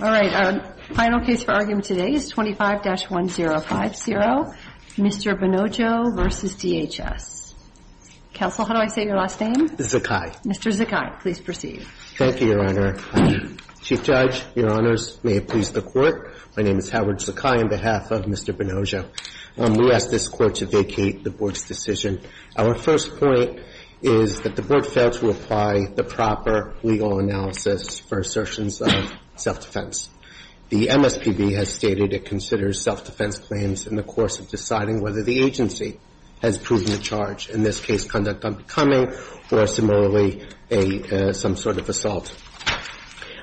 All right, our final case for argument today is 25-1050, Mr. Bonojo v. DHS. Counsel, how do I say your last name? Zakai. Mr. Zakai, please proceed. Thank you, Your Honor. Chief Judge, Your Honors, may it please the Court, my name is Howard Zakai on behalf of Mr. Bonojo. We ask this Court to vacate the Board's decision. Our first point is that the Board failed to apply the proper legal analysis for assertions of self-defense. The MSPB has stated it considers self-defense claims in the course of deciding whether the agency has proven a charge, in this case conduct unbecoming or similarly some sort of assault.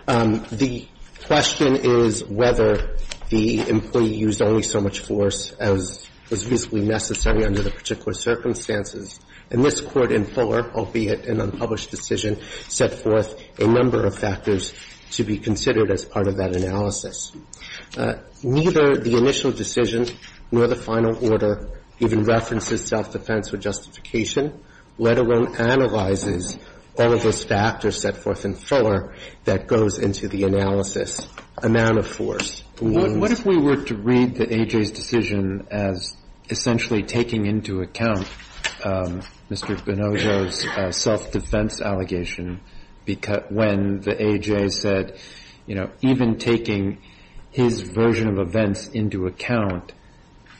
The question is whether the employee used only so much force as was reasonably necessary under the particular circumstances. And this Court in fuller, albeit an unpublished decision, set forth a number of factors to be considered as part of that analysis. Neither the initial decision nor the final order even references self-defense or justification, let alone analyzes all of those factors set forth in fuller that goes into the analysis. Amount of force. What if we were to read the AJ's decision as essentially taking into account Mr. Bonojo's self-defense allegation when the AJ said, you know, even taking his version of events into account,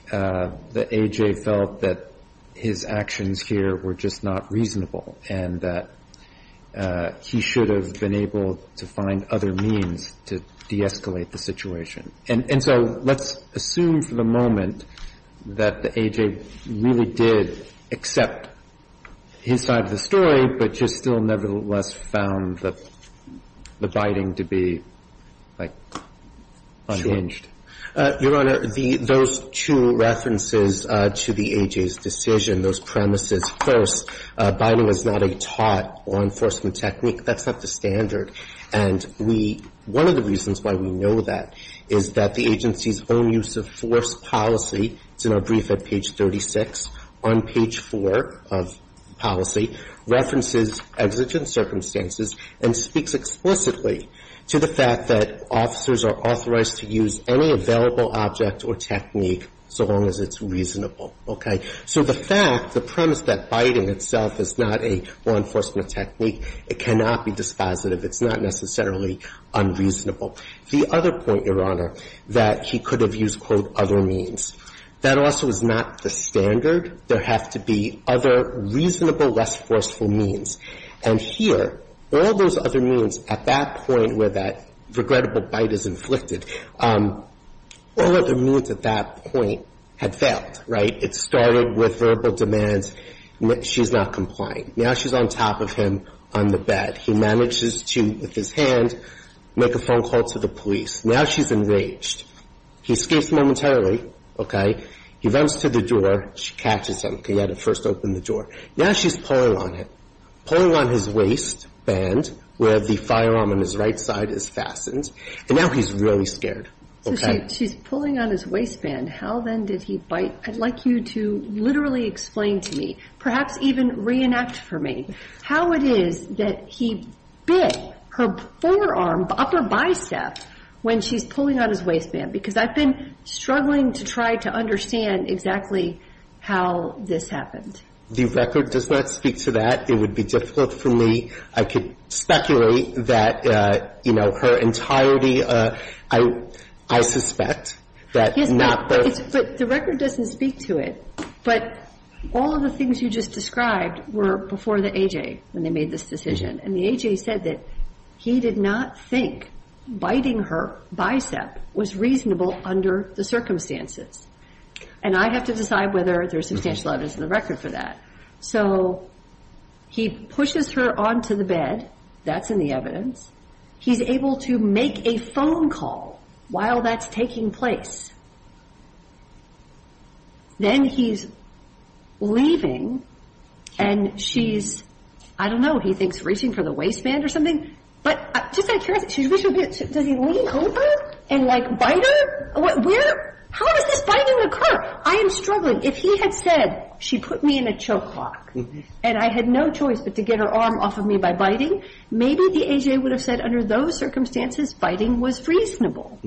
the AJ felt that his actions here were just not reasonable and that he should have been able to find other means to de-escalate the situation. And so let's assume for the moment that the AJ really did accept his side of the story, but just still nevertheless found the biting to be unchanged. Your Honor, those two references to the AJ's decision, those premises. First, biting was not a taught law enforcement technique. That's not the standard. And one of the reasons why we know that is that the agency's own use of force policy, it's in our brief at page 36, on page four of policy, references exigent circumstances and speaks explicitly to the fact that officers are authorized to use any available object or technique so long as it's reasonable. OK? So the fact, the premise that biting itself is not a law enforcement technique, it cannot be dispositive. It's not necessarily unreasonable. The other point, Your Honor, that he could have used, quote, other means. That also is not the standard. There have to be other reasonable, less forceful means. And here, all those other means at that point where that regrettable bite is inflicted, all other means at that point had failed, right? It started with verbal demands. She's not complying. Now she's on top of him on the bed. He manages to, with his hand, make a phone call to the police. Now she's enraged. He escapes momentarily. OK? He runs to the door. She catches him because he had to first open the door. Now she's pulling on it, pulling on his waistband where the firearm on his right side is fastened. And now he's really scared. OK? So she's pulling on his waistband. How then did he bite? I'd like you to literally explain to me, perhaps even reenact for me, how it is that he bit her forearm, upper bicep, when she's pulling on his waistband. Because I've been struggling to try to understand exactly how this happened. The record does not speak to that. It would be difficult for me. I could speculate that her entirety, I suspect, that not there. But the record doesn't speak to it. But all of the things you just described were before the AJ when they made this decision. And the AJ said that he did not think biting her bicep was reasonable under the circumstances. And I'd have to decide whether there's substantial evidence in the record for that. So he pushes her onto the bed. That's in the evidence. He's able to make a phone call while that's taking place. Then he's leaving. And she's, I don't know, he thinks, reaching for the waistband or something. But just out of curiosity, does he lean over and bite her? How does this biting occur? I am struggling. If he had said, she put me in a choke lock, and I had no choice but to get her arm off of me by biting, maybe the AJ would have said, under those circumstances, biting was reasonable.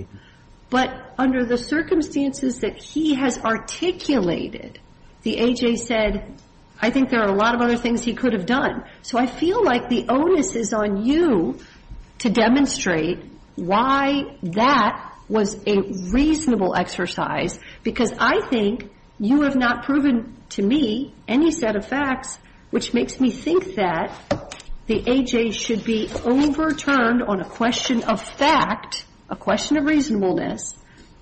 But under the circumstances that he has articulated, the AJ said, I think there are a lot of other things he could have done. So I feel like the onus is on you to demonstrate why that was a reasonable exercise. Because I think you have not proven to me any set of facts which makes me think that the AJ should be overturned on a question of fact, a question of reasonableness,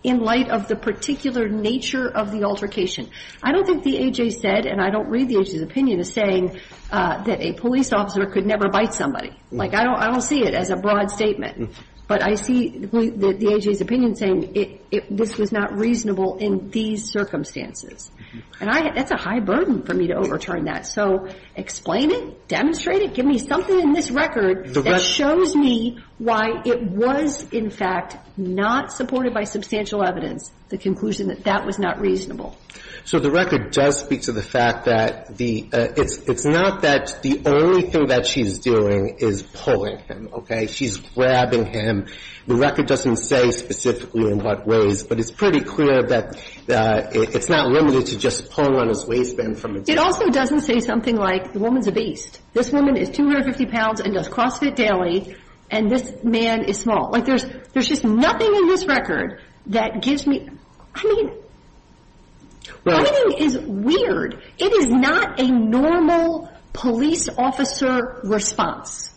in light of the particular nature of the altercation. I don't think the AJ said, and I don't read the AJ's opinion as saying that a police officer could never bite somebody. Like, I don't see it as a broad statement. But I see the AJ's opinion saying, this was not reasonable in these circumstances. And that's a high burden for me to overturn that. So explain it. Demonstrate it. Give me something in this record that shows me why it was, in fact, not supported by substantial evidence, the conclusion that that was not reasonable. So the record does speak to the fact that it's not that the only thing that she's doing is pulling him, OK? She's grabbing him. The record doesn't say specifically in what ways. But it's pretty clear that it's not limited to just pulling on his waistband from a distance. It also doesn't say something like, the woman's a beast. This woman is 250 pounds and does CrossFit daily. And this man is small. Like, there's just nothing in this record that gives me, I mean, biting is weird. It is not a normal police officer response.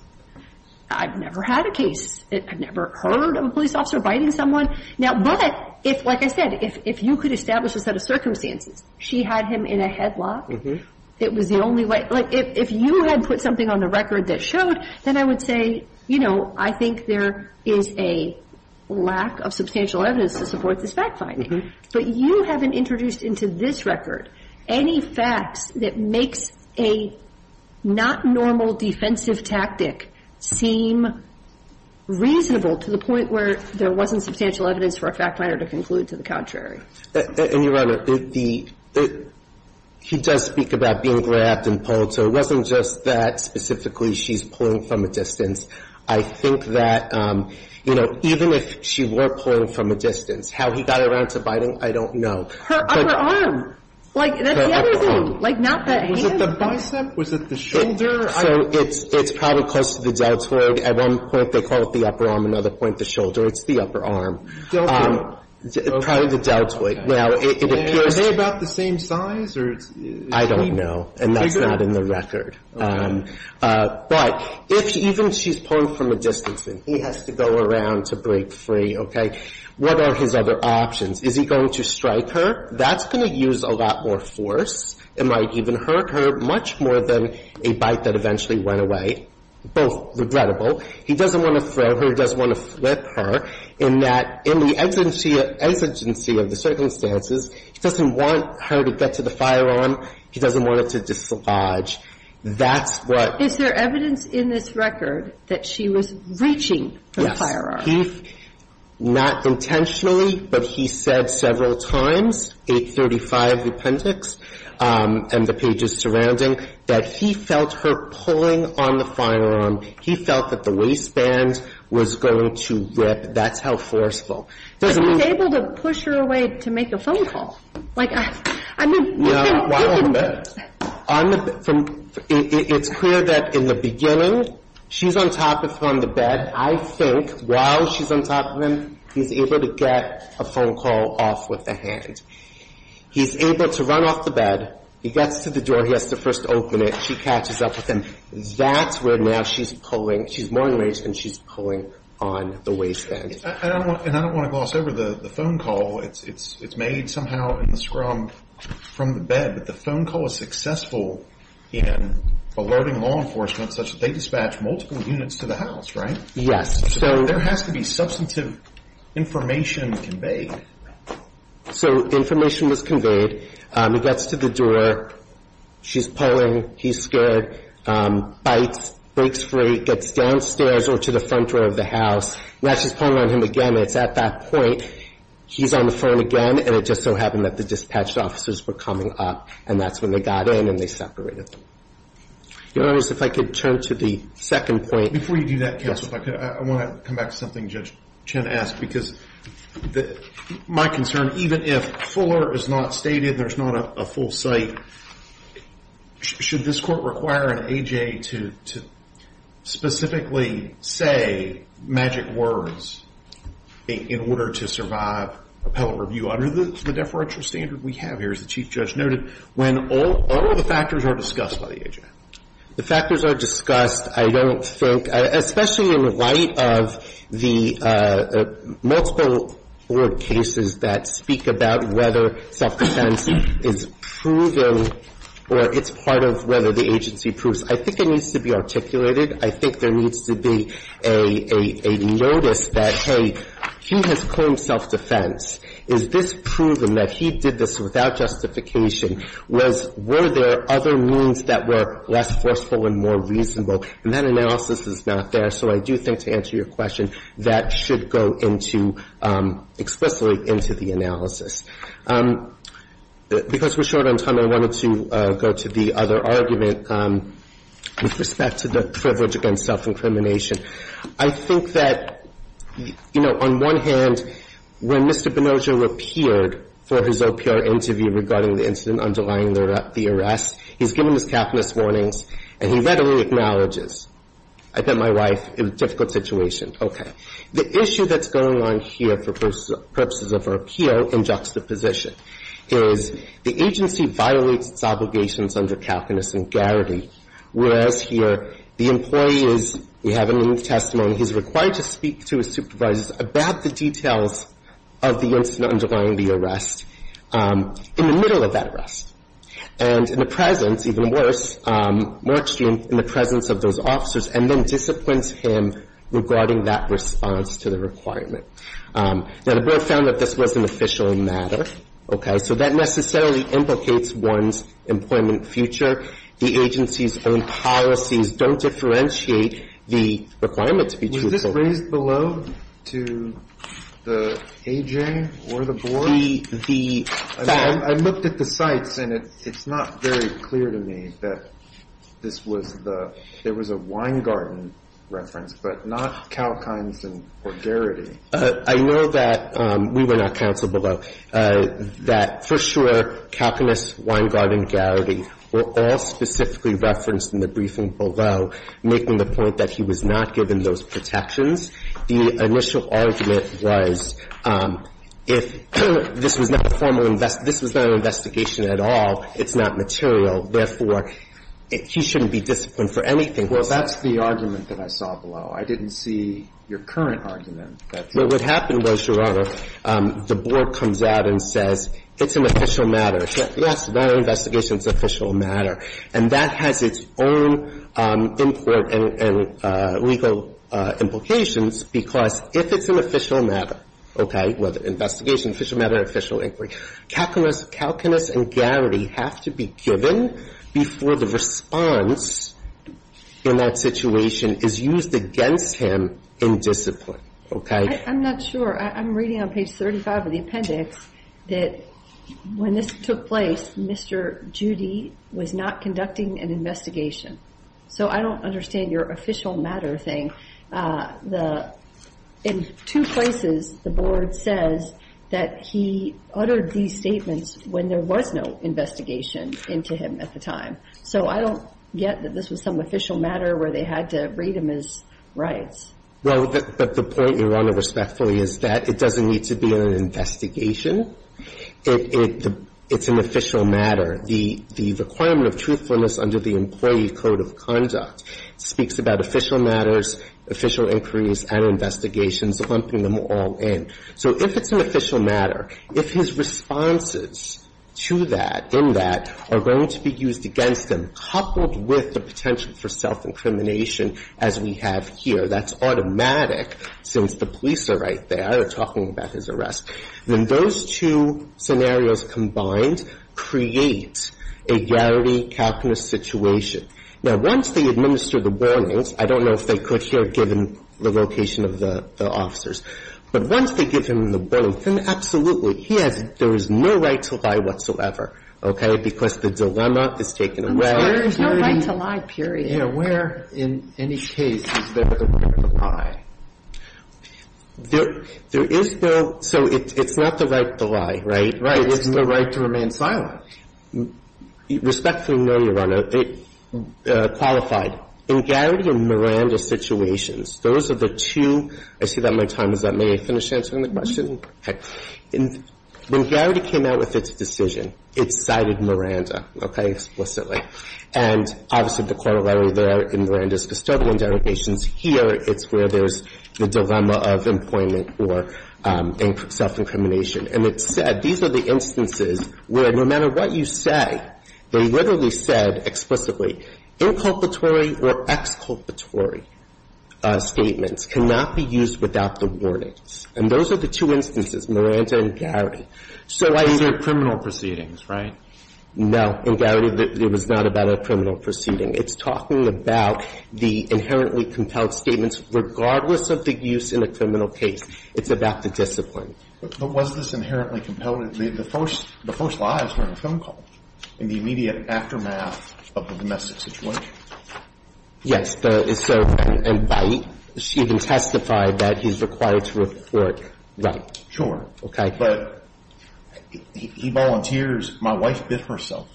I've never had a case. I've never heard of a police officer biting someone. Now, but, like I said, if you could establish a set of circumstances, she had him in a headlock. It was the only way. Like, if you had put something on the record that showed, then I would say, you know, I think there is a lack of substantial evidence to support this fact-finding. But you haven't introduced into this record any facts that makes a not normal defensive tactic seem reasonable to the point where there wasn't substantial evidence for a fact-finder to conclude to the contrary. And, Your Honor, he does speak about being grabbed and pulled. So it wasn't just that specifically she's pulling from a distance. I think that, you know, even if she were pulling from a distance, how he got around to biting, I don't know. Her upper arm. Like, that's the other thing. Like, not the hand. Was it the bicep? Was it the shoulder? So it's probably close to the deltoid. At one point, they call it the upper arm. Another point, the shoulder. It's the upper arm. Deltoid. Probably the deltoid. Now, it appears to be about the same size, or is he? I don't know. And that's not in the record. But if even she's pulling from a distance and he has to go around to break free, OK, what are his other options? Is he going to strike her? That's going to use a lot more force. It might even hurt her much more than a bite that eventually went away, both regrettable. He doesn't want to throw her. He doesn't want to flip her, in that in the exigency of the circumstances, he doesn't want her to get to the firearm. He doesn't want it to dislodge. That's what. Is there evidence in this record that she was reaching for the firearm? Not intentionally, but he said several times, 835 Appendix and the pages surrounding, that he felt her pulling on the firearm. He felt that the waistband was going to rip. That's how forceful. But he was able to push her away to make a phone call. Like, I mean, he can. Yeah, while on the bed. It's clear that in the beginning, she's on top of him on the bed. I think while she's on top of him, he's able to get a phone call off with a hand. He's able to run off the bed. He gets to the door. He has to first open it. She catches up with him. That's where now she's pulling. She's more enraged than she's pulling on the waistband. And I don't want to gloss over the phone call. It's made somehow in the scrum from the bed. But the phone call is successful in alerting law enforcement such that they dispatch multiple units to the house, right? Yes. There has to be substantive information conveyed. So information was conveyed. He gets to the door. She's pulling. He's scared, bites, breaks free, gets downstairs or to the front door of the house. Now she's pulling on him again. It's at that point. He's on the phone again. And it just so happened that the dispatch officers were coming up. And that's when they got in and they separated them. Your Honors, if I could turn to the second point. Before you do that, counsel, if I could, I want to come back to something Judge Chen asked. Because my concern, even if Fuller is not stated and there's not a full cite, should this court require an AJ to specifically say magic words in order to survive appellate review under the deferential standard we have here, as the Chief Judge noted, when all the factors are discussed by the AJ? The factors are discussed. I don't think, especially in light of the multiple court cases that speak about whether self-defense is proven or it's part of whether the agency proves. I think it needs to be articulated. I think there needs to be a notice that, hey, he has claimed self-defense. Is this proven that he did this without justification? Was – were there other means that were less forceful and more reasonable? And that analysis is not there. So I do think, to answer your question, that should go into – explicitly into the analysis. Because we're short on time, I wanted to go to the other argument with respect to the privilege against self-incrimination. I think that, you know, on one hand, when Mr. Bonoggia appeared for his OPR interview regarding the incident underlying the arrest, he's given his capitalist warnings and he readily acknowledges. I bet my wife, it was a difficult situation. Okay. The issue that's going on here, for purposes of our appeal in juxtaposition, is the agency violates its obligations under Calcuinus and Garrity, whereas here the employee is – we have in the testimony, he's required to speak to his supervisors about the details of the incident underlying the arrest in the middle of that arrest, and in the presence, even worse, in the presence of those officers and then disciplines him regarding that response to the requirement. Now, the Board found that this was an official matter. Okay. So that necessarily implicates one's employment future. The agency's own policies don't differentiate the requirement to be juxtaposed. Was this raised below to the AJ or the Board? The – the fact – I looked at the sites and it's not very clear to me that this was the – there So this is a Weingarten reference, but not Calcuinus and – or Garrity. I know that – we were not counsel below – that for sure Calcuinus, Weingarten, Garrity were all specifically referenced in the briefing below, making the point that he was not given those protections. The initial argument was if this was not a formal – this was not an investigation at all, it's not material, therefore, he shouldn't be disciplined for anything. Well, that's the argument that I saw below. I didn't see your current argument that – Well, what happened was, Your Honor, the Board comes out and says it's an official matter. Yes. Yes. That investigation's an official matter. And that has its own import and legal implications because if it's an official matter, okay, whether investigation, official matter, official inquiry, Calcuinus and Garrity have to be given before the response in that situation is used against him in discipline, okay? I'm not sure. I'm reading on page 35 of the appendix that when this took place, Mr. Judy was not conducting an investigation. So I don't understand your official matter thing. The – in two places, the Board says that he uttered these statements when there was no investigation into him at the time. So I don't get that this was some official matter where they had to read him his rights. Well, but the point, Your Honor, respectfully, is that it doesn't need to be an investigation. It's an official matter. The requirement of truthfulness under the Employee Code of Conduct speaks about official matters, official inquiries, and investigations, lumping them all in. So if it's an official matter, if his responses to that, in that, are going to be used against him, coupled with the potential for self-incrimination as we have here, that's automatic since the police are right there. They're talking about his arrest. So if there is an official matter, if there is an official matter, if there is an official matter, then those two scenarios combined create a garrity, calculus situation. Now, once they administer the warnings, I don't know if they could here, given the location of the officers, but once they give him the warrant, then absolutely, he has – there is no right to lie whatsoever, okay, because the dilemma is taken away. There is no right to lie, period. Yeah, where in any case is there the right to lie? There is no – so it's not the right to lie, right? Right. It's the right to remain silent. Respectfully, no, Your Honor. Qualified. In Garrity and Miranda situations, those are the two – I see that my time is up. May I finish answering the question? Okay. When Garrity came out with its decision, it cited Miranda, okay, explicitly. And obviously, the corollary there in Miranda's custodial indemnifications here, it's where there's the dilemma of employment or self-incrimination. And it said, these are the instances where no matter what you say, they literally said explicitly, inculpatory or exculpatory statements cannot be used without the warnings. And those are the two instances, Miranda and Garrity. So I – Those are criminal proceedings, right? No. In Garrity, it was not about a criminal proceeding. It's talking about the inherently compelled statements regardless of the use in a criminal case. It's about the discipline. But was this inherently compelled? The first – the first lie is during a phone call in the immediate aftermath of the domestic situation. Yes. So – and by – she even testified that he's required to report, right? Sure. Okay. But he volunteers. My wife bit herself.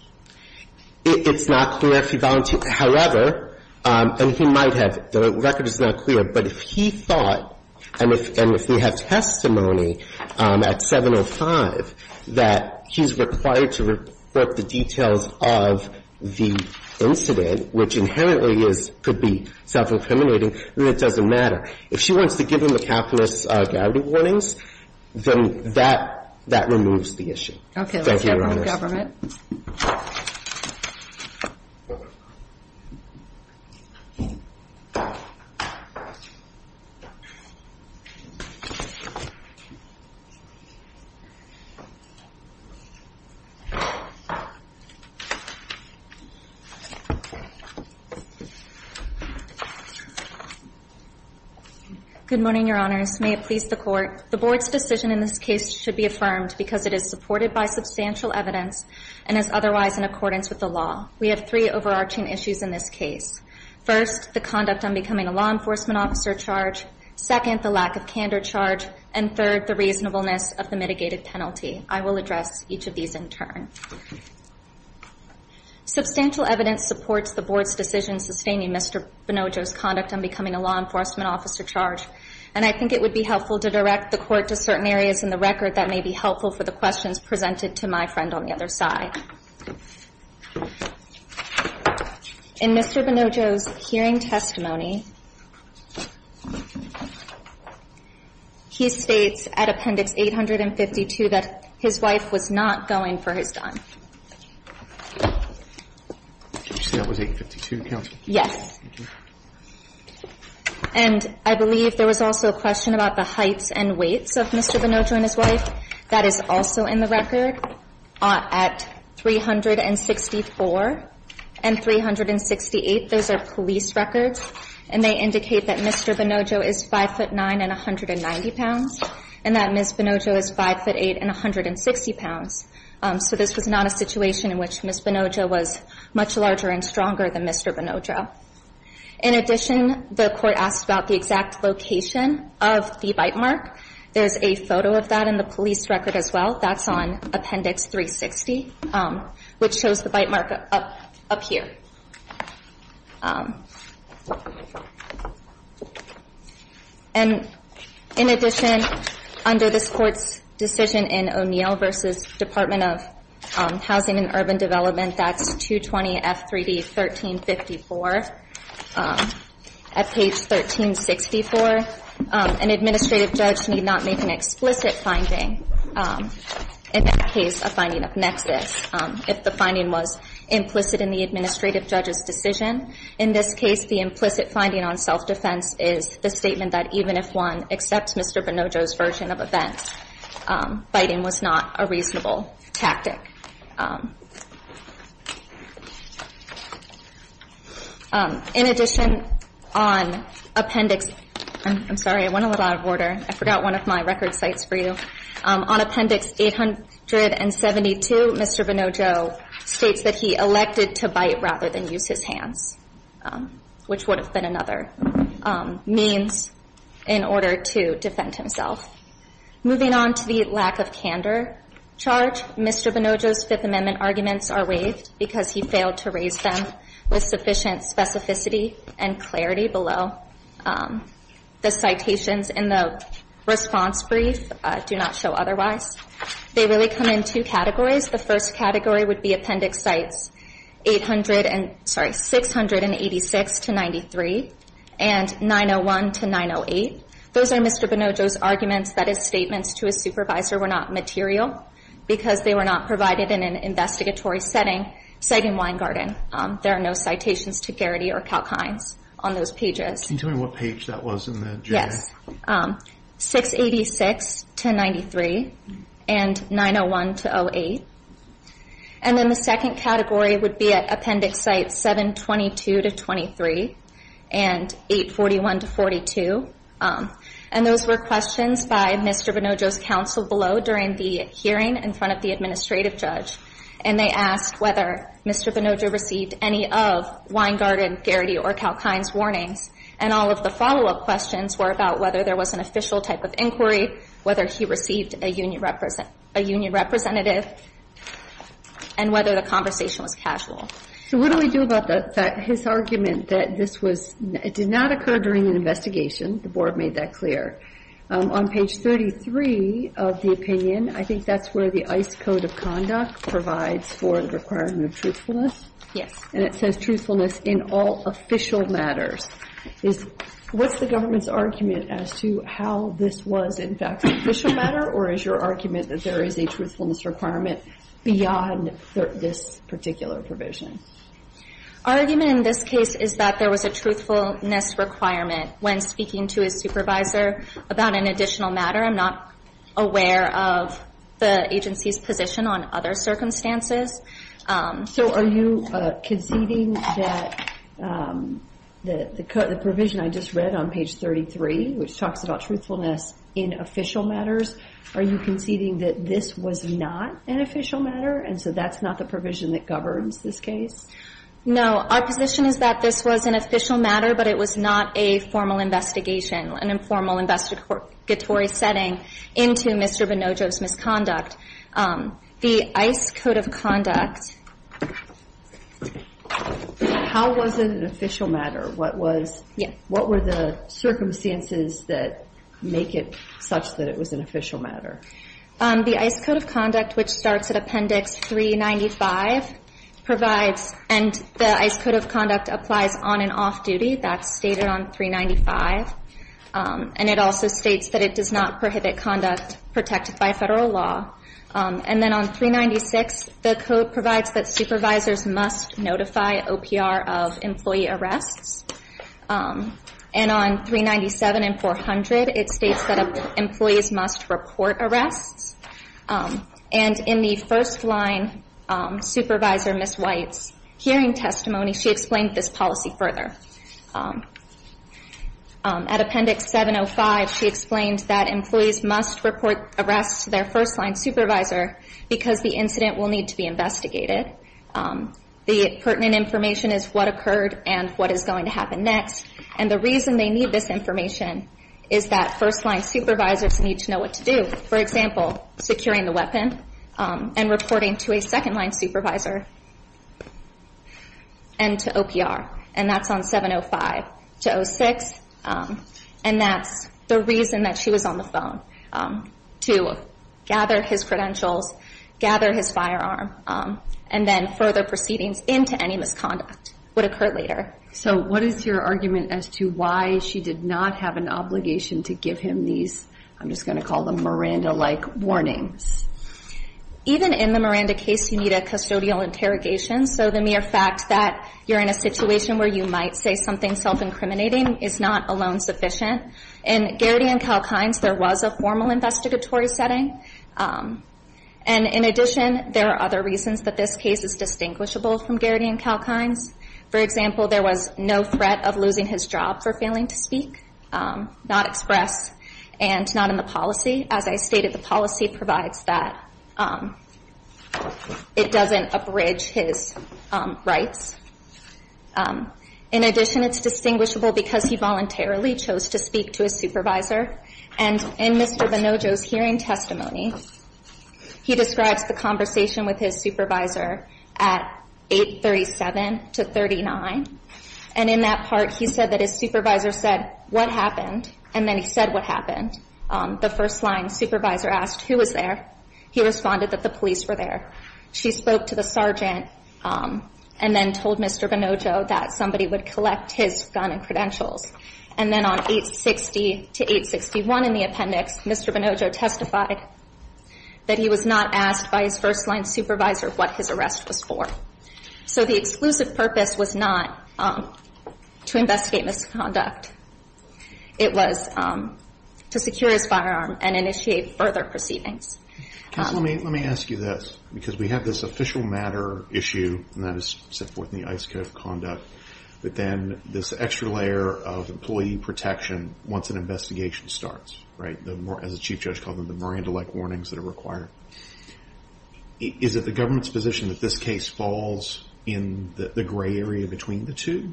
It's not clear if he volunteered. However, and he might have – the record is not clear. But if he thought, and if we have testimony at 705, that he's required to report the details of the incident, which inherently is – could be self-incriminating, then it doesn't matter. If she wants to give him a calculus of Garrity warnings, then that – that removes the issue. Okay. Let's have him with government. Good morning, Your Honors. May it please the Court. The Board's decision in this case should be affirmed because it is supported by substantial evidence and is otherwise in accordance with the law. We have three overarching issues in this case. First, the conduct on becoming a law enforcement officer charge. Second, the lack of candor charge. And third, the reasonableness of the mitigated penalty. I will address each of these in turn. Substantial evidence supports the Board's decision sustaining Mr. Bonoggio's conduct on becoming a law enforcement officer charge, and I think it would be helpful to direct the Court to certain areas in the record that may be helpful for the questions presented to my friend on the other side. In Mr. Bonoggio's hearing testimony, he states at Appendix 852 that his wife was not going for his son. Did you say that was 852, Counsel? Yes. And I believe there was also a question about the heights and weights of Mr. Bonoggio and his wife. That is also in the record. At 364 and 368, those are police records, and they indicate that Mr. Bonoggio is 5'9 and 190 pounds, and that Ms. Bonoggio is 5'8 and 160 pounds. So this was not a situation in which Ms. Bonoggio was much larger and stronger than Mr. Bonoggio. In addition, the Court asked about the exact location of the bite mark. There's a photo of that in the police record as well. That's on Appendix 360, which shows the bite mark up here. And in addition, under this Court's decision in O'Neill v. Department of Housing and Urban Development, that's 220 F3D 1354, at page 1364, an administrative judge need not make an explicit finding, in that case a finding of nexus, if the finding was implicit in the administrative judge's decision. In this case, the implicit finding on self-defense is the statement that even if one accepts Mr. Bonoggio's version of events, biting was not a reasonable tactic. In addition, on Appendix, I'm sorry, I went a little out of order. I forgot one of my record sites for you. On Appendix 872, Mr. Bonoggio states that he elected to bite rather than use his hands, which would have been another means in order to defend himself. Moving on to the lack of candor charge, Mr. Bonoggio's Fifth Amendment arguments are waived because he failed to raise them with sufficient specificity and clarity below the citations in the response brief, do not show otherwise. They really come in two categories. The first category would be Appendix Sites 800 and, sorry, 686 to 93, and 901 to 908. Those are Mr. Bonoggio's arguments that his statements to his supervisor were not material because they were not provided in an investigatory setting, say in Weingarten. There are no citations to Garrity or Kalkines on those pages. Can you tell me what page that was in the journal? Yes. 686 to 93, and 901 to 08. And then the second category would be at Appendix Sites 722 to 23, and 841 to 42. And those were questions by Mr. Bonoggio's counsel below during the hearing in front of the administrative judge. And they asked whether Mr. Bonoggio received any of Weingarten, Garrity, or Kalkines' warnings. And all of the follow-up questions were about whether there was an official type of inquiry, whether he received a union representative, and whether the conversation was casual. So what do we do about his argument that this was, it did not occur during an investigation, the board made that clear. On page 33 of the opinion, I think that's where the ICE Code of Conduct provides for the requirement of truthfulness. Yes. And it says truthfulness in all official matters. What's the government's argument as to how this was in fact an official matter, or is your argument that there is a truthfulness requirement beyond this particular provision? Our argument in this case is that there was a truthfulness requirement when speaking to a supervisor about an additional matter. I'm not aware of the agency's position on other circumstances. So are you conceding that the provision I just read on page 33, which talks about truthfulness in official matters, are you conceding that this was not an official matter, and so that's not the provision that governs this case? No. Our position is that this was an official matter, but it was not a formal investigation, an informal investigatory setting into Mr. Bonoggio's misconduct. The ICE Code of Conduct... How was it an official matter? What was... Yeah. What were the circumstances that make it such that it was an official matter? The ICE Code of Conduct, which starts at Appendix 395, provides... And the ICE Code of Conduct applies on and off duty. That's stated on 395. And it also states that it does not prohibit conduct protected by federal law. And then on 396, the code provides that supervisors must notify OPR of employee arrests. And on 397 and 400, it states that employees must report arrests. And in the first-line supervisor, Ms. White's, hearing testimony, she explained this policy further. At Appendix 705, she explained that employees must report arrests to their first-line supervisor because the incident will need to be investigated. The pertinent information is what occurred and what is going to happen next. And the reason they need this information is that first-line supervisors need to know what to do. For example, securing the weapon and reporting to a second-line supervisor and to OPR. And that's on 705. To 06, and that's the reason that she was on the phone, to gather his credentials, gather his firearm, and then further proceedings into any misconduct would occur later. So what is your argument as to why she did not have an obligation to give him these, I'm just going to call them Miranda-like, warnings? Even in the Miranda case, you need a custodial interrogation. So the mere fact that you're in a situation where you might say something self-incriminating is not alone sufficient. In Garrity and Kalkine's, there was a formal investigatory setting. And in addition, there are other reasons that this case is distinguishable from Garrity and Kalkine's. For example, there was no threat of losing his job for failing to speak, not express, and not in the policy. As I stated, the policy provides that it doesn't abridge his rights. In addition, it's distinguishable because he voluntarily chose to speak to his And in Mr. Bonojo's hearing testimony, he describes the conversation with his supervisor at 837 to 39. And in that part, he said that his supervisor said, what happened? And then he said what happened. The first line supervisor asked, who was there? He responded that the police were there. She spoke to the sergeant and then told Mr. Bonojo that somebody would collect his gun and credentials. And then on 860 to 861 in the appendix, Mr. Bonojo testified that he was not asked by his first line supervisor what his arrest was for. So the exclusive purpose was not to investigate misconduct. It was to secure his firearm and initiate further proceedings. Let me ask you this, because we have this official matter issue, and that is set forth in the ICE code of conduct. But then this extra layer of employee protection, once an investigation starts, right, as a chief judge called them, the Miranda-like warnings that are required. Is it the government's position that this case falls in the gray area between the two?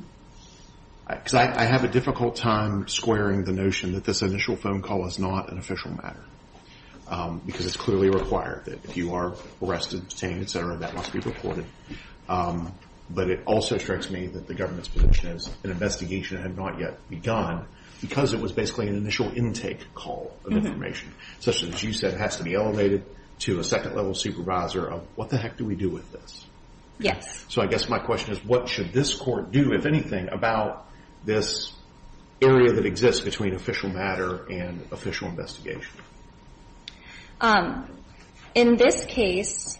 Because I have a difficult time squaring the notion that this initial phone call was not an official matter, because it's clearly required that if you are arrested, detained, et cetera, that must be reported. But it also strikes me that the government's position is an investigation had not yet begun, because it was basically an initial intake call of information. Such as you said, it has to be elevated to a second level supervisor of, what the heck do we do with this? Yes. So I guess my question is, what should this court do, if anything, about this area that exists between official matter and official investigation? In this case,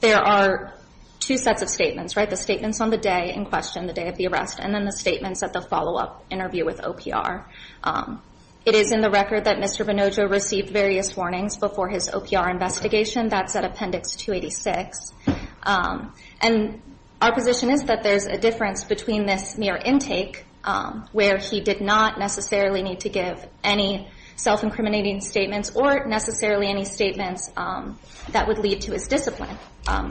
there are two sets of statements, right? The statements on the day in question, the day of the arrest, and then the statements at the follow-up interview with OPR. It is in the record that Mr. Bonojo received various warnings before his OPR investigation. That's at appendix 286. And our position is that there's a difference between this mere intake, where he did not necessarily need to give any self-incriminating statements or necessarily any statements that would lead to his discipline.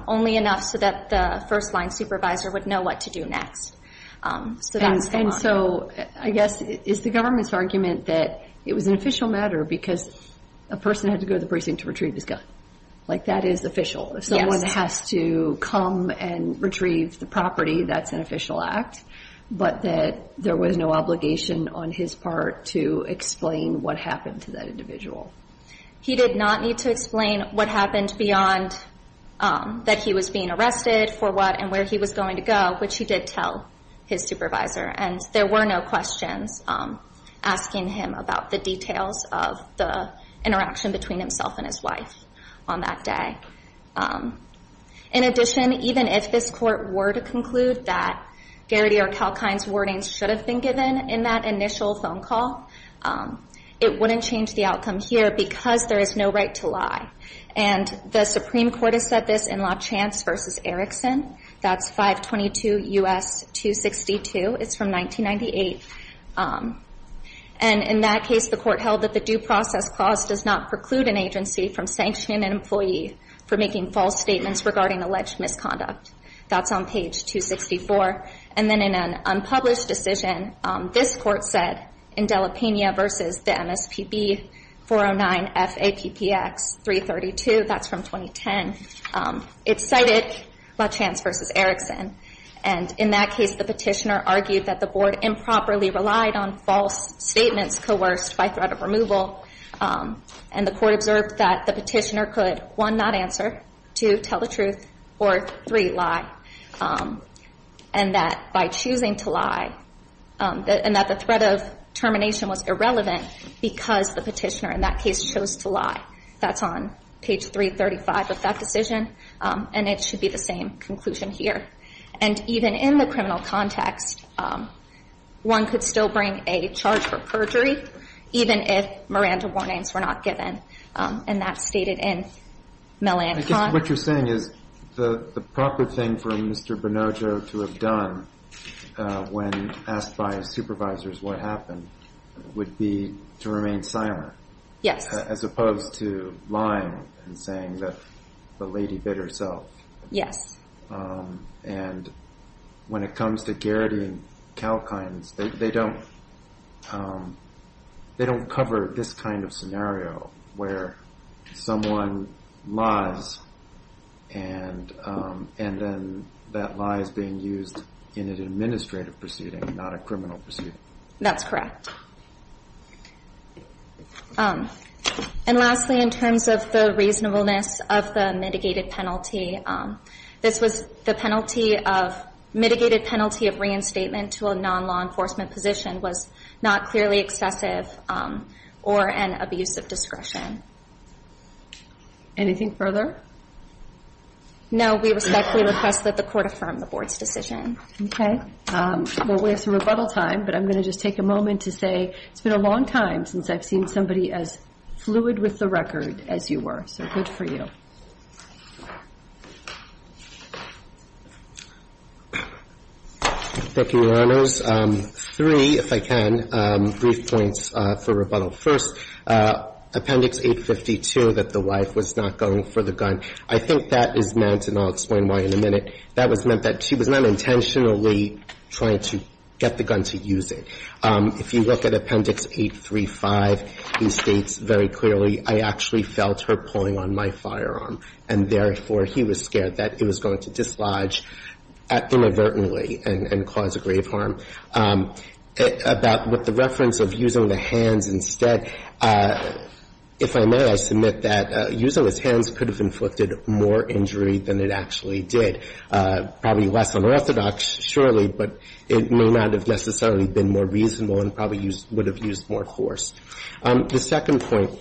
Only enough so that the first-line supervisor would know what to do next. So that's the one. And so, I guess, is the government's argument that it was an official matter because a person had to go to the precinct to retrieve his gun. Like, that is official. If someone has to come and retrieve the property, that's an official act. But that there was no obligation on his part to explain what happened to that individual. He did not need to explain what happened beyond that he was being arrested for what and where he was going to go, which he did tell his supervisor. And there were no questions asking him about the details of the interaction between himself and his wife on that day. In addition, even if this court were to conclude that Garrity or Kalkine's warnings should have been given in that initial phone call, it wouldn't change the outcome here because there is no right to lie. And the Supreme Court has said this in La Chance versus Erickson. That's 522 U.S. 262. It's from 1998. And in that case, the court held that the due process clause does not preclude an agency from sanctioning an employee for making false statements regarding alleged misconduct. That's on page 264. And then in an unpublished decision, this court said, in Dela Pena versus the MSPB 409 FAPPX 332, that's from 2010. It cited La Chance versus Erickson. And in that case, the petitioner argued that the board improperly relied on false statements coerced by threat of removal. And the court observed that the petitioner could, one, not answer, two, tell the truth, or three, lie. And that by choosing to lie, and that the threat of termination was irrelevant because the petitioner in that case chose to lie. That's on page 335 of that decision. And it should be the same conclusion here. And even in the criminal context, one could still bring a charge for perjury, even if Miranda warnings were not given. And that's stated in Melanne Conn. I guess what you're saying is the proper thing for Mr. Bonoggio to have done when asked by his supervisors what happened would be to remain silent. Yes. As opposed to lying and saying that the lady bit herself. Yes. And when it comes to Garrity and Kalkines, they don't cover this kind of scenario where someone lies and then that lie is being used in an administrative proceeding, not a criminal proceeding. That's correct. And lastly, in terms of the reasonableness of the mitigated penalty, this was the penalty of mitigated penalty of reinstatement to a non-law enforcement position was not clearly excessive or an abuse of discretion. Anything further? No, we respectfully request that the court affirm the board's decision. Okay. Well, we have some rebuttal time, but I'm going to just take a moment to say it's been a long time since I've seen somebody as fluid with the record as you were. So good for you. Thank you, Your Honors. Three, if I can, brief points for rebuttal. First, Appendix 852, that the wife was not going for the gun, I think that is meant, and I'll explain why in a minute, that was meant that she was not intentionally trying to get the gun to use it. If you look at Appendix 835, it states very clearly, I actually felt her pulling on my firearm and therefore he was scared that it was going to dislodge inadvertently and cause a grave harm. About what the reference of using the hands instead, if I may, I submit that using his hands could have inflicted more injury than it actually did. Probably less unorthodox, surely, but it may not have necessarily been more reasonable and probably would have used more force. The second point,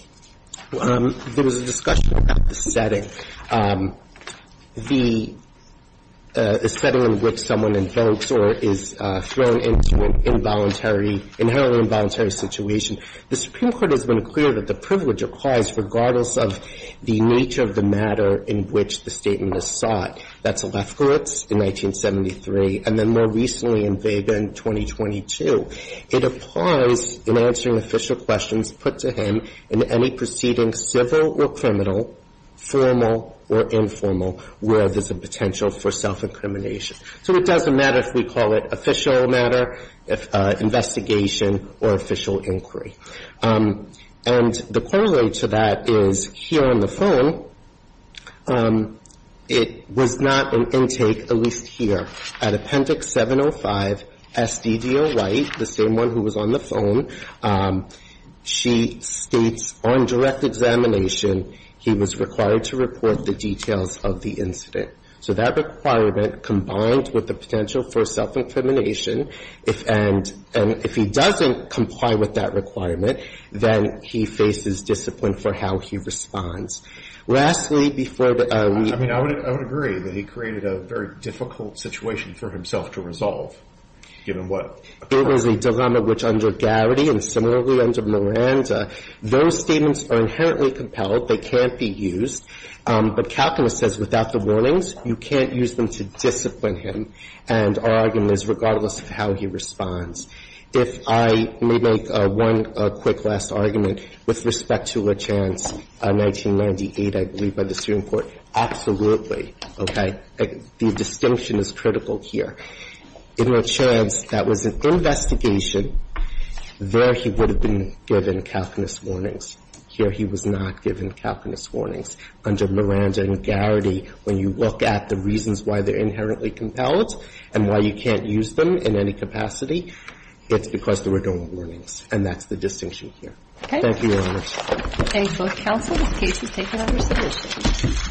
there was a discussion about the setting. The setting in which someone invokes or is thrown into an involuntary, inherently involuntary situation, the Supreme Court has been clear that the privilege applies regardless of the nature of the matter in which the statement is sought. That's Lefkowitz in 1973, and then more recently in Vega in 2022. It applies in answering official questions put to him in any proceeding, civil or criminal, formal or informal, where there's a potential for self-incrimination. So it doesn't matter if we call it official matter, investigation, or official inquiry. And the corollary to that is here on the phone, it was not an intake, at least here, at Appendix 705, S. D. D. O. White, the same one who was on the phone, she states on direct examination, he was required to report the details of the incident. So that requirement combined with the potential for self-incrimination, and if he doesn't comply with that requirement, then he faces discipline for how he responds. Lastly, before we end. I mean, I would agree that he created a very difficult situation for himself to resolve, given what occurred. There was a dilemma which under Garrity and similarly under Miranda, those statements are inherently compelled. They can't be used. But Calculus says without the warnings, you can't use them to discipline him. And our argument is regardless of how he responds. If I may make one quick last argument with respect to LaChanze, 1998, I believe by the Supreme Court. Absolutely. Okay. The distinction is critical here. In LaChanze, that was an investigation. There he would have been given Calculus warnings. Here he was not given Calculus warnings. Under Miranda and Garrity, when you look at the reasons why they're inherently compelled and why you can't use them in any capacity, it's because there were no warnings. And that's the distinction here. Okay. Thank you very much. Thank you both counsel. This case is taken on receipt.